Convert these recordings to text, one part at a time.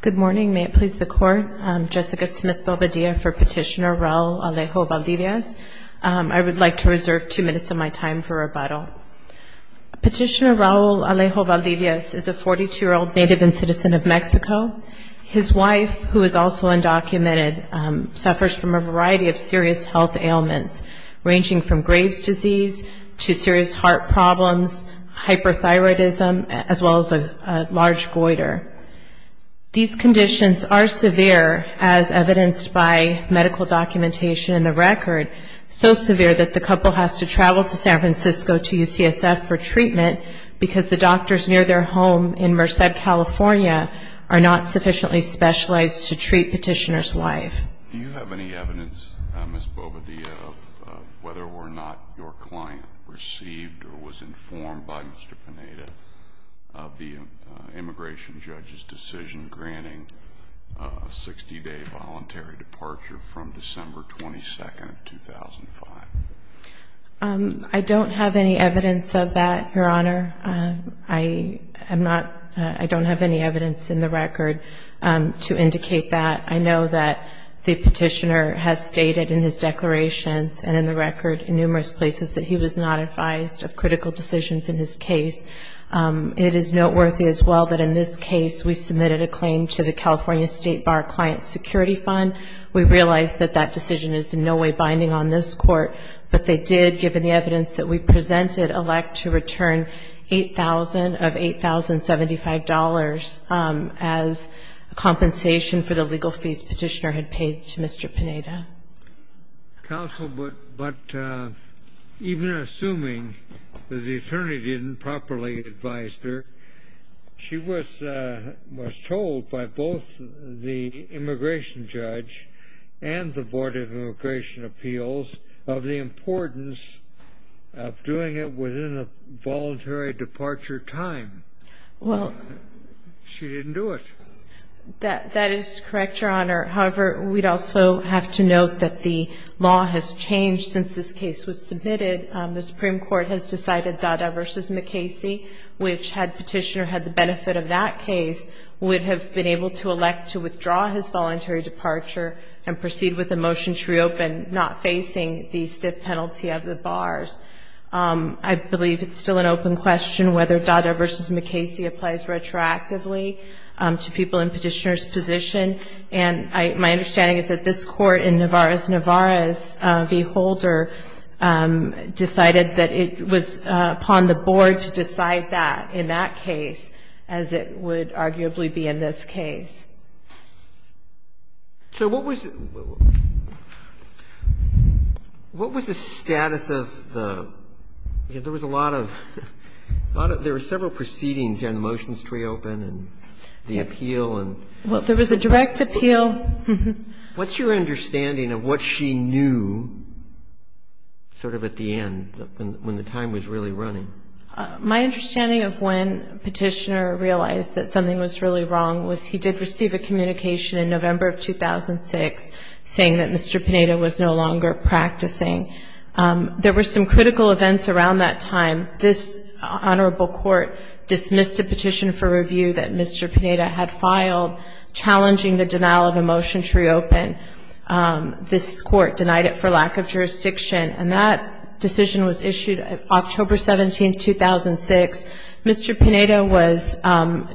Good morning, may it please the Court. I'm Jessica Smith-Bobadilla for Petitioner Raul Alejo Valdivias. I would like to reserve two minutes of my time for rebuttal. Petitioner Raul Alejo Valdivias is a 42-year-old native and citizen of Mexico. His wife, who is also undocumented, suffers from a variety of serious health ailments, ranging from Graves' disease to serious heart problems, hyperthyroidism, as well as a large goiter. These conditions are severe, as evidenced by medical documentation and the record, so severe that the couple has to travel to San Francisco to UCSF for treatment because the doctors near their home in Merced, California, are not sufficiently specialized to treat Petitioner's wife. Do you have any evidence, Ms. Bobadilla, of whether or not your client received or was informed by Mr. Pineda of the immigration judge's decision granting a 60-day voluntary departure from December 22, 2005? I don't have any evidence of that, Your Honor. I am not, I don't have any evidence in the record to indicate that. I know that the Petitioner has stated in his declarations and in the record in numerous places that he was not advised of critical decisions in his case. It is noteworthy as well that in this case we submitted a claim to the California State Bar Client Security Fund. We realize that that decision is in no way binding on this court, but they did, given the evidence that we presented, elect to return $8,000 of $8,075 as compensation for the legal fees Petitioner had paid to Mr. Pineda. Counsel, but even assuming that the attorney didn't properly advise her, she was told by both the immigration judge and the Board of the importance of doing it within the voluntary departure time. Well. She didn't do it. That is correct, Your Honor. However, we'd also have to note that the law has changed since this case was submitted. The Supreme Court has decided Dada v. McKayse, which had Petitioner had the benefit of that case, would have been able to elect to withdraw his voluntary departure and proceed with the motion to reopen, not facing the stiff penalty of the bars. I believe it's still an open question whether Dada v. McKayse applies retroactively to people in Petitioner's position, and my understanding is that this Court in Navarrez-Navarrez v. Holder decided that it was upon the Board to decide that in that case, as it would arguably be in this case. So what was the status of the – there was a lot of – there were several proceedings here on the motions to reopen and the appeal and – Well, there was a direct appeal. What's your understanding of what she knew sort of at the end, when the time was really running? My understanding of when Petitioner realized that something was really wrong was he did receive a letter from the Board in November of 2006 saying that Mr. Pineda was no longer practicing. There were some critical events around that time. This Honorable Court dismissed a petition for review that Mr. Pineda had filed challenging the denial of a motion to reopen. This Court denied it for lack of jurisdiction, and that decision was issued October 17, 2006. Mr. Pineda was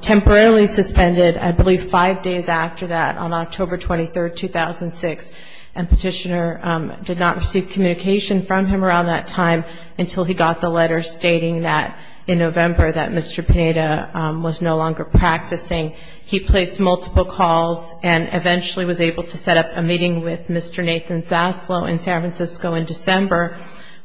temporarily suspended, I believe five days after that, on October 23, 2006, and Petitioner did not receive communication from him around that time until he got the letter stating that in November that Mr. Pineda was no longer practicing. He placed multiple calls and eventually was able to set up a meeting with Mr. Nathan Zaslow in San Francisco in December.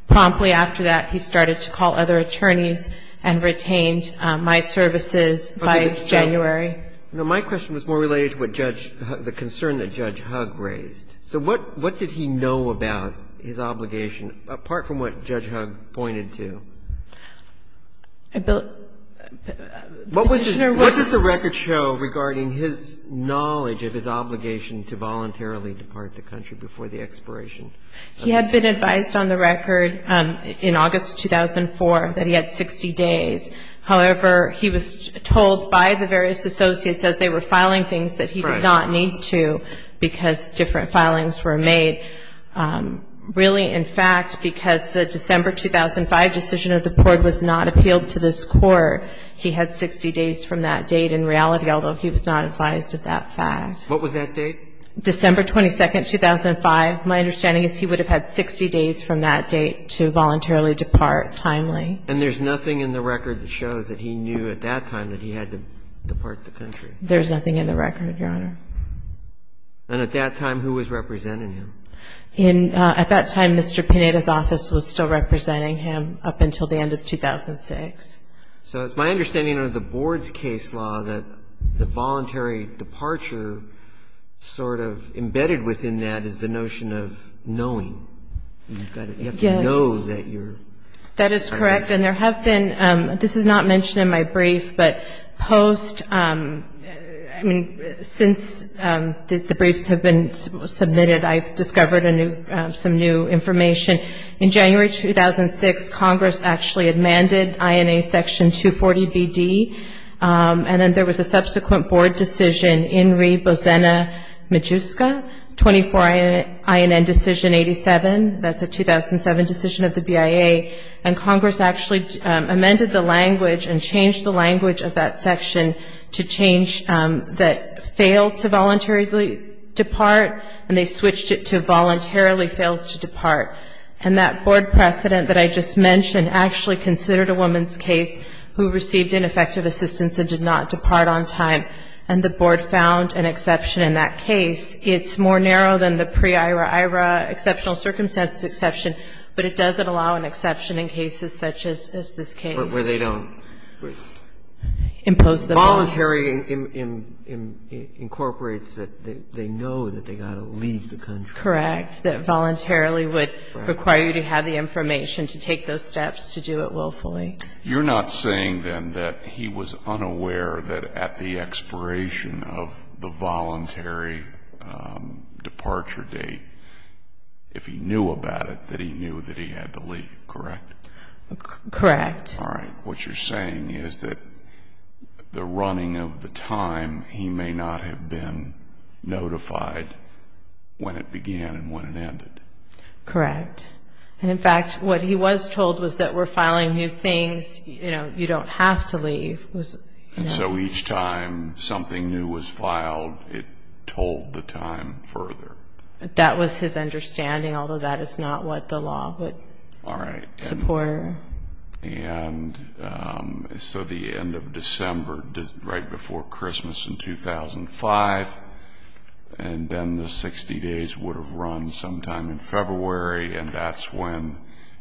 Promptly after that, he started to call other attorneys and retained my services by January. Now, my question was more related to what Judge Hug, the concern that Judge Hug raised. So what did he know about his obligation, apart from what Judge Hug pointed to? Petitioner was. What does the record show regarding his knowledge of his obligation to voluntarily depart the country before the expiration? He had been advised on the record in August 2004 that he had 60 days. However, he was told by the various associates as they were filing things that he did not need to because different filings were made. Really, in fact, because the December 2005 decision of the court was not appealed to this Court, he had 60 days from that date in reality, although he was not advised of that fact. What was that date? December 22, 2005. My understanding is he would have had 60 days from that date to voluntarily depart timely. And there's nothing in the record that shows that he knew at that time that he had to depart the country? There's nothing in the record, Your Honor. And at that time, who was representing him? In at that time, Mr. Pineda's office was still representing him up until the end of 2006. So it's my understanding under the Board's case law that the voluntary departure sort of embedded within that is the notion of knowing. Yes. You have to know that you're. That is correct. And there have been, this is not mentioned in my brief, but post, I mean, since the briefs have been submitted, I've discovered some new information. In January 2006, Congress actually amended INA Section 240BD, and then there was a subsequent Board decision, INRI Bozena Majuska, 24 INN Decision 87. That's a 2007 decision of the BIA. And Congress actually amended the language and changed the language of that section to change that failed to voluntarily depart, and they switched it to voluntarily fails to depart. And that Board precedent that I just mentioned actually considered a woman's case who received ineffective assistance and did not depart on time, and the Board found an exception in that case. It's more narrow than the pre-IRA-IRA exceptional circumstances exception, but it doesn't allow an exception in cases such as this case. Where they don't. Impose the. Voluntary incorporates that they know that they've got to leave the country. Correct. That voluntarily would require you to have the information to take those steps to do it willfully. You're not saying, then, that he was unaware that at the expiration of the voluntary departure date, if he knew about it, that he knew that he had to leave, correct? Correct. All right. What you're saying is that the running of the time, he may not have been notified when it began and when it ended. Correct. And, in fact, what he was told was that we're filing new things, you know, you don't have to leave. And so each time something new was filed, it told the time further. That was his understanding, although that is not what the law would support. All right. And so the end of December, right before Christmas in 2005, and then the 60 days would have run sometime in February, and that's when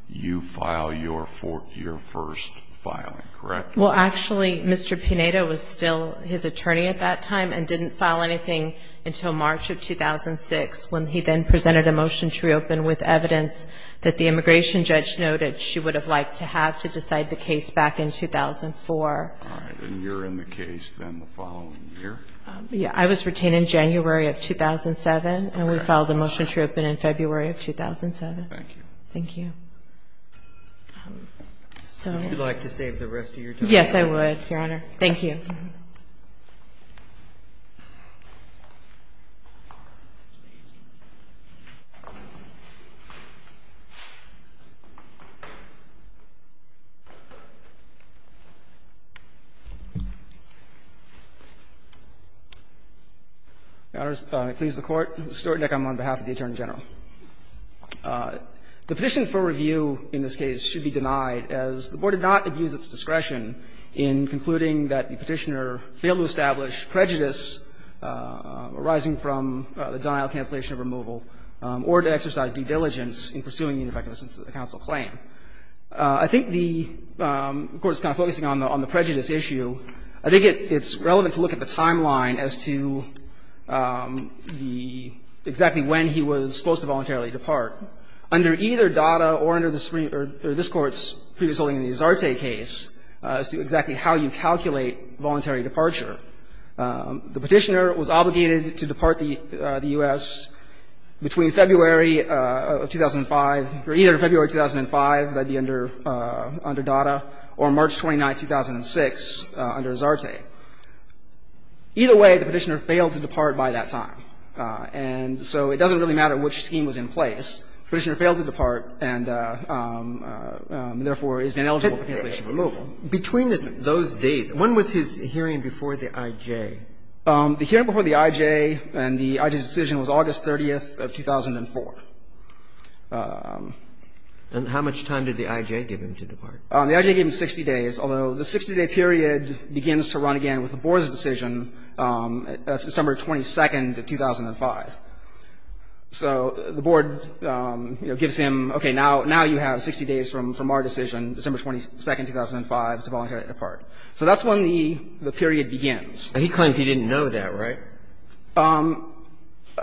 you file your first filing, correct? Well, actually, Mr. Pineda was still his attorney at that time and didn't file anything until March of 2006 when he then presented a motion to reopen with evidence that the immigration judge noted she would have liked to have to decide the case back in 2004. All right. And you're in the case then the following year? Yeah, I was retained in January of 2007, and we filed the motion to reopen in February of 2007. Thank you. Thank you. Would you like to save the rest of your time? Yes, I would, Your Honor. Thank you. May it please the Court. Stuart Nick, I'm on behalf of the Attorney General. The petition for review in this case should be denied, as the Board did not abuse its discretion in concluding that the Petitioner failed to establish prejudice arising from the denial, cancellation of removal, or to exercise due diligence in pursuing the ineffectiveness of the counsel claim. I think the Court is kind of focusing on the prejudice issue. I think it's relevant to look at the timeline as to the exactly when he was supposed to voluntarily depart. Under either Dada or under the Supreme or this Court's previous holding in the Azarte case, as to exactly how you calculate voluntary departure, the Petitioner was obligated to depart the U.S. between February of 2005, or either February 2005, that would Either way, the Petitioner failed to depart by that time. And so it doesn't really matter which scheme was in place. The Petitioner failed to depart and, therefore, is ineligible for cancellation of removal. Between those dates, when was his hearing before the I.J.? The hearing before the I.J. and the I.J.'s decision was August 30th of 2004. And how much time did the I.J. give him to depart? The I.J. gave him 60 days, although the 60-day period begins to run again with the Board's decision, December 22nd of 2005. So the Board, you know, gives him, okay, now you have 60 days from our decision, December 22nd, 2005, to voluntarily depart. So that's when the period begins. And he claims he didn't know that, right?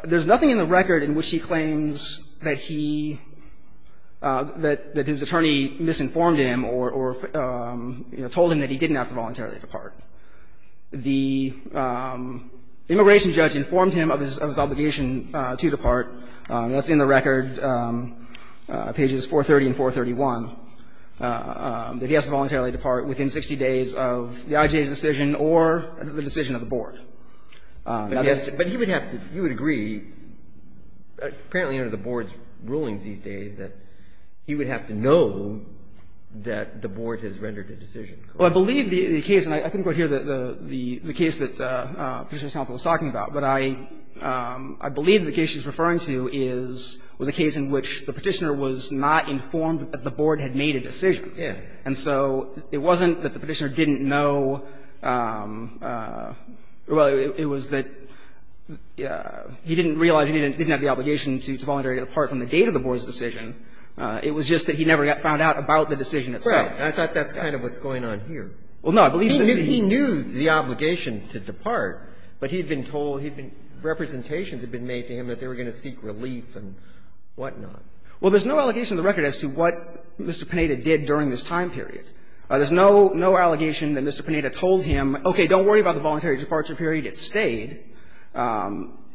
There's nothing in the record in which he claims that he, that his attorney misinformed him or, you know, told him that he didn't have to voluntarily depart. The immigration judge informed him of his obligation to depart. That's in the record, pages 430 and 431, that he has to voluntarily depart within 60 days of the I.J.'s decision or the decision of the Board. But he would have to, you would agree, apparently under the Board's rulings these days, that he would have to know that the Board has rendered a decision. Well, I believe the case, and I couldn't quite hear the case that Petitioner's counsel was talking about, but I believe the case she's referring to is, was a case in which the Petitioner was not informed that the Board had made a decision. And so it wasn't that the Petitioner didn't know, well, it was that he didn't realize he didn't have the obligation to voluntarily depart from the date of the Board's decision. It was just that he never found out about the decision itself. Right. And I thought that's kind of what's going on here. Well, no. He knew the obligation to depart, but he had been told, he had been, representations had been made to him that they were going to seek relief and whatnot. Well, there's no allegation in the record as to what Mr. Pineda did during this time period. There's no, no allegation that Mr. Pineda told him, okay, don't worry about the voluntary departure period, it stayed.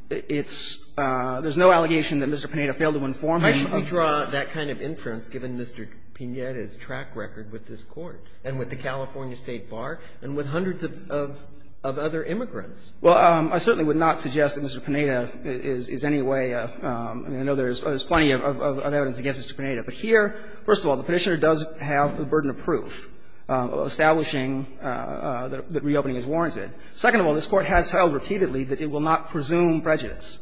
It's, there's no allegation that Mr. Pineda failed to inform him. Why should we draw that kind of inference, given Mr. Pineda's track record with this Court and with the California State Bar and with hundreds of, of other immigrants? Well, I certainly would not suggest that Mr. Pineda is any way, I mean, I know there's plenty of evidence against Mr. Pineda. But here, first of all, the Petitioner does have the burden of proof establishing that reopening is warranted. Second of all, this Court has held repeatedly that it will not presume prejudice.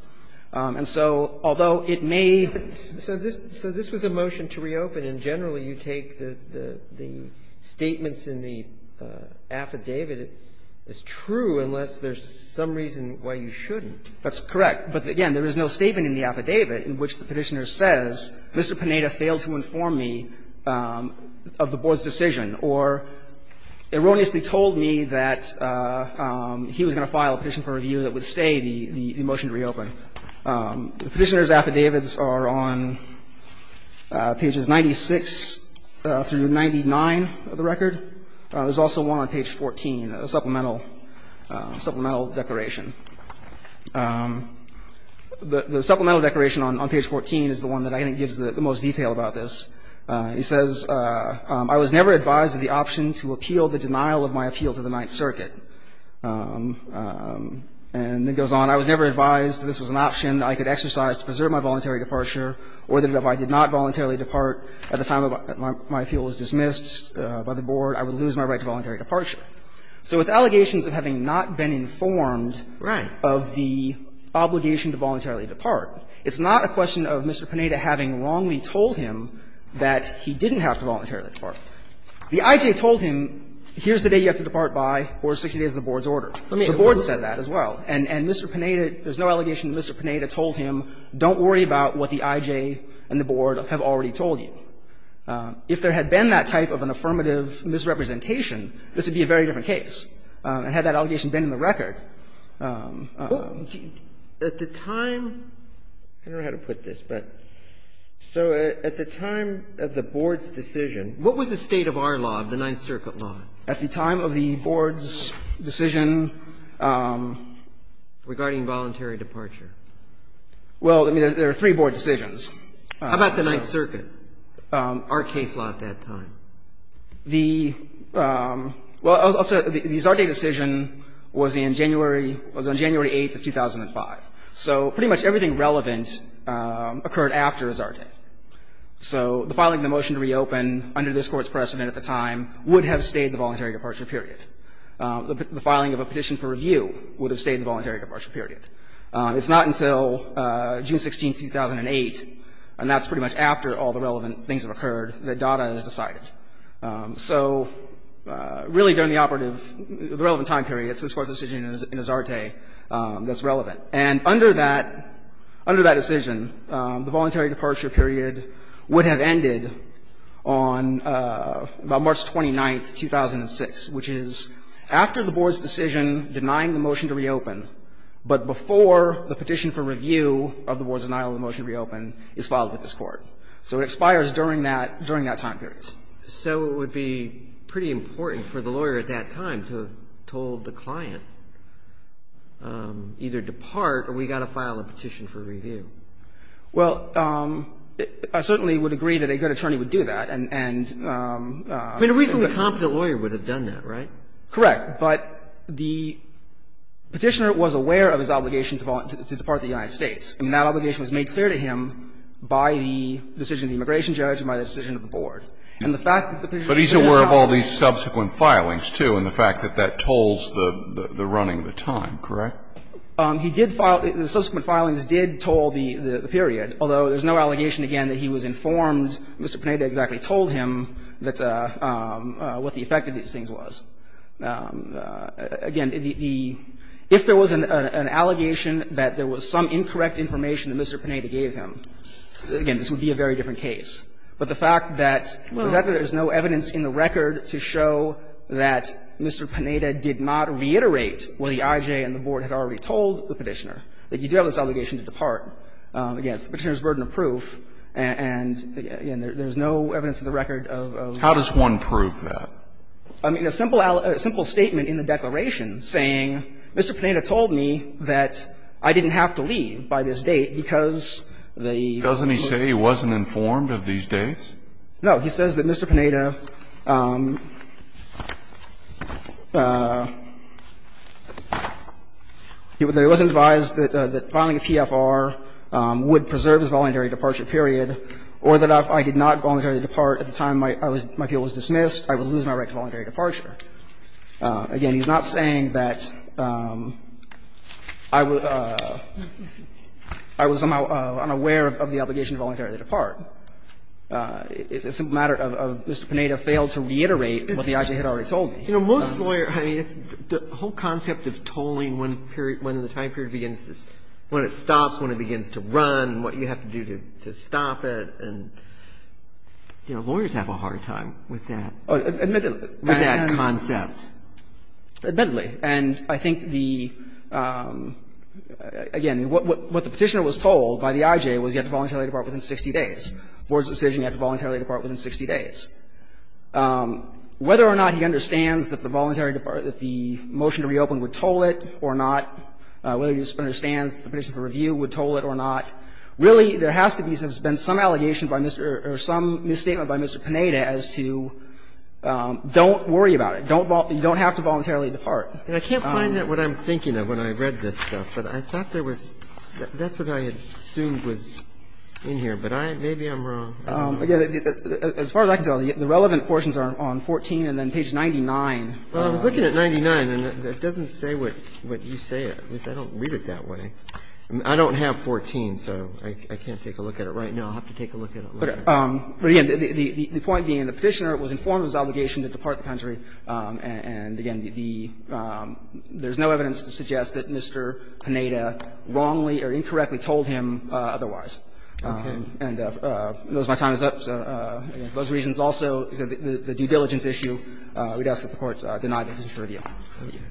And so, although it may be, so this, so this was a motion to reopen, and generally you take the, the, the statements in the affidavit as true unless there's some reason why you shouldn't. That's correct. But again, there is no statement in the affidavit in which the Petitioner says, Mr. Pineda failed to inform me of the Board's decision or erroneously told me that he was going to file a petition for review that would stay the, the motion to reopen. The Petitioner's affidavits are on pages 96 through 99 of the record. There's also one on page 14, a supplemental, supplemental declaration. The, the supplemental declaration on, on page 14 is the one that I think gives the most detail about this. He says, I was never advised of the option to appeal the denial of my appeal to the Ninth Circuit. And it goes on, I was never advised that this was an option I could exercise to preserve my voluntary departure or that if I did not voluntarily depart at the time of my, my appeal was dismissed by the Board, I would lose my right to voluntary departure. So it's allegations of having not been informed of the obligation to voluntarily depart. It's not a question of Mr. Pineda having wrongly told him that he didn't have to voluntarily depart. The IJ told him, here's the day you have to depart by or 60 days of the Board's order. The Board said that as well. And, and Mr. Pineda, there's no allegation that Mr. Pineda told him, don't worry about what the IJ and the Board have already told you. If there had been that type of an affirmative misrepresentation, this would be a very And had that allegation been in the record, I don't know. At the time, I don't know how to put this, but so at the time of the Board's decision What was the state of our law, of the Ninth Circuit law? At the time of the Board's decision Regarding voluntary departure. Well, I mean, there are three Board decisions. How about the Ninth Circuit, our case law at that time? The, well, I'll say the Zarte decision was in January, was on January 8th of 2005. So pretty much everything relevant occurred after Zarte. So the filing of the motion to reopen under this Court's precedent at the time would have stayed the voluntary departure period. The filing of a petition for review would have stayed the voluntary departure period. It's not until June 16th, 2008, and that's pretty much after all the relevant things have occurred, that data is decided. So really, during the operative, the relevant time period, it's this Court's decision in Zarte that's relevant. And under that, under that decision, the voluntary departure period would have ended on March 29th, 2006, which is after the Board's decision denying the motion to reopen, but before the petition for review of the Board's denial of the motion to reopen is filed with this Court. So it expires during that, during that time period. And so it would be pretty important for the lawyer at that time to have told the client, either depart or we've got to file a petition for review. Well, I certainly would agree that a good attorney would do that, and the reason a competent lawyer would have done that, right? Correct. But the petitioner was aware of his obligation to depart the United States, and that obligation was made clear to him by the decision of the immigration judge and by the decision of the Board. And the fact that the petitioner was aware of that. But he's aware of all these subsequent filings, too, and the fact that that tolls the running of the time, correct? He did file the subsequent filings did toll the period, although there's no allegation, again, that he was informed, Mr. Panetta exactly told him that what the effect of these things was. Again, the the if there was an allegation that there was some incorrect information that Mr. Panetta gave him, again, this would be a very different case. But the fact that there's no evidence in the record to show that Mr. Panetta did not reiterate what the IJ and the Board had already told the petitioner, that you do have this allegation to depart, again, it's the petitioner's burden of proof, and there's no evidence in the record of. How does one prove that? I mean, a simple statement in the declaration saying, Mr. Panetta told me that I didn't have to leave by this date because the. Scalia, doesn't he say he wasn't informed of these dates? No. He says that Mr. Panetta, he was advised that filing a PFR would preserve his voluntary departure period, or that if I did not voluntarily depart at the time my appeal was dismissed, I would lose my right to voluntary departure. Again, he's not saying that I was somehow unaware of the obligation to voluntarily depart. It's a matter of Mr. Panetta failed to reiterate what the IJ had already told me. You know, most lawyers, I mean, the whole concept of tolling when period, when the time period begins to, when it stops, when it begins to run, what you have to do to stop it, and, you know, lawyers have a hard time with that. With that concept. Admittedly. And I think the, again, what the Petitioner was told by the IJ was you have to voluntarily depart within 60 days. The Board's decision, you have to voluntarily depart within 60 days. Whether or not he understands that the voluntary departure, that the motion to reopen would toll it or not, whether he understands the petition for review would toll it or not, really there has to be some allegation by Mr. or some misstatement by Mr. Panetta as to don't worry about it. Don't have to voluntarily depart. And I can't find what I'm thinking of when I read this stuff, but I thought there was, that's what I had assumed was in here, but maybe I'm wrong. Again, as far as I can tell, the relevant portions are on 14 and then page 99. Well, I was looking at 99, and it doesn't say what you say. At least I don't read it that way. I don't have 14, so I can't take a look at it right now. I'll have to take a look at it later. But again, the point being the Petitioner was informed of his obligation to depart the country, and again, there's no evidence to suggest that Mr. Panetta wrongly or incorrectly told him otherwise. And if my time is up, for those reasons also, the due diligence issue, we'd ask that the Court deny the petition for review. Thank you.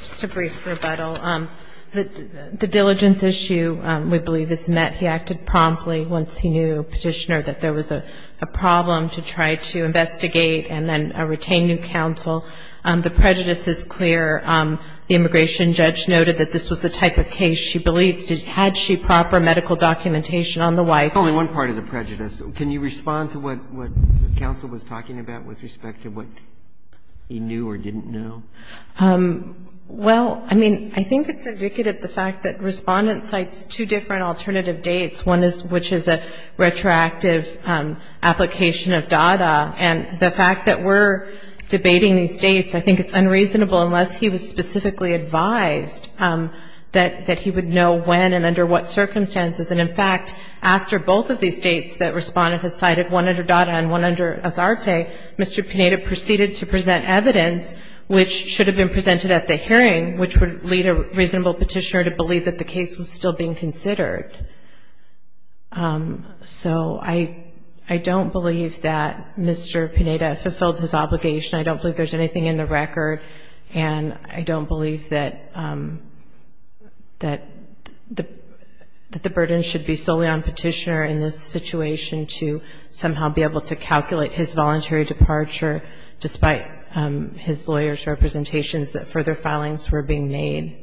Just a brief rebuttal. The diligence issue, we believe, is met. He acted promptly once he knew, Petitioner, that there was a problem to try to investigate and then retain new counsel. The prejudice is clear. The immigration judge noted that this was the type of case she believed. Had she proper medical documentation on the wife? That's only one part of the prejudice. Can you respond to what counsel was talking about with respect to what he knew or didn't know? Well, I mean, I think it's indicative of the fact that Respondent cites two different alternative dates, one which is a retroactive application of DADA. And the fact that we're debating these dates, I think it's unreasonable unless he was and under what circumstances. And, in fact, after both of these dates that Respondent has cited, one under DADA and one under ASARTE, Mr. Pineda proceeded to present evidence which should have been presented at the hearing, which would lead a reasonable petitioner to believe that the case was still being considered. So I don't believe that Mr. Pineda fulfilled his obligation. I don't believe there's anything in the record. And I don't believe that the burden should be solely on Petitioner in this situation to somehow be able to calculate his voluntary departure, despite his lawyer's representations that further filings were being made.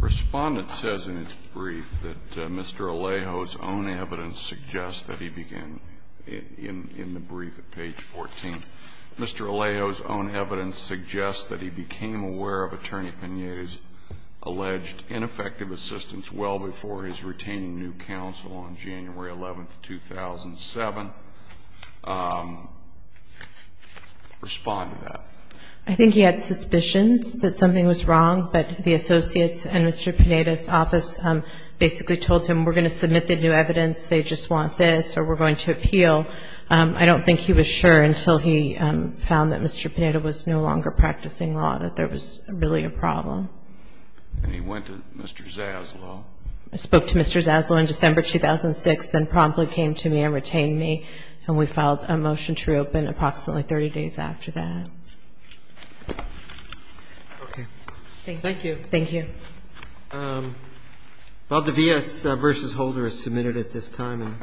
Respondent says in its brief that Mr. Alejo's own evidence suggests that he began in the brief at page 14. Mr. Alejo's own evidence suggests that he became aware of Attorney Pineda's alleged ineffective assistance well before his retaining new counsel on January 11, 2007. Respond to that. I think he had suspicions that something was wrong, but the Associates and Mr. Pineda's office basically told him, we're going to submit the new evidence, they just want this, or we're going to appeal. I don't think he was sure until he found that Mr. Pineda was no longer practicing law, that there was really a problem. And he went to Mr. Zaslow. I spoke to Mr. Zaslow in December 2006, then promptly came to me and retained me, and we filed a motion to reopen approximately 30 days after that. Okay. Thank you. Thank you. Well, the VS v. Holder is submitted at this time.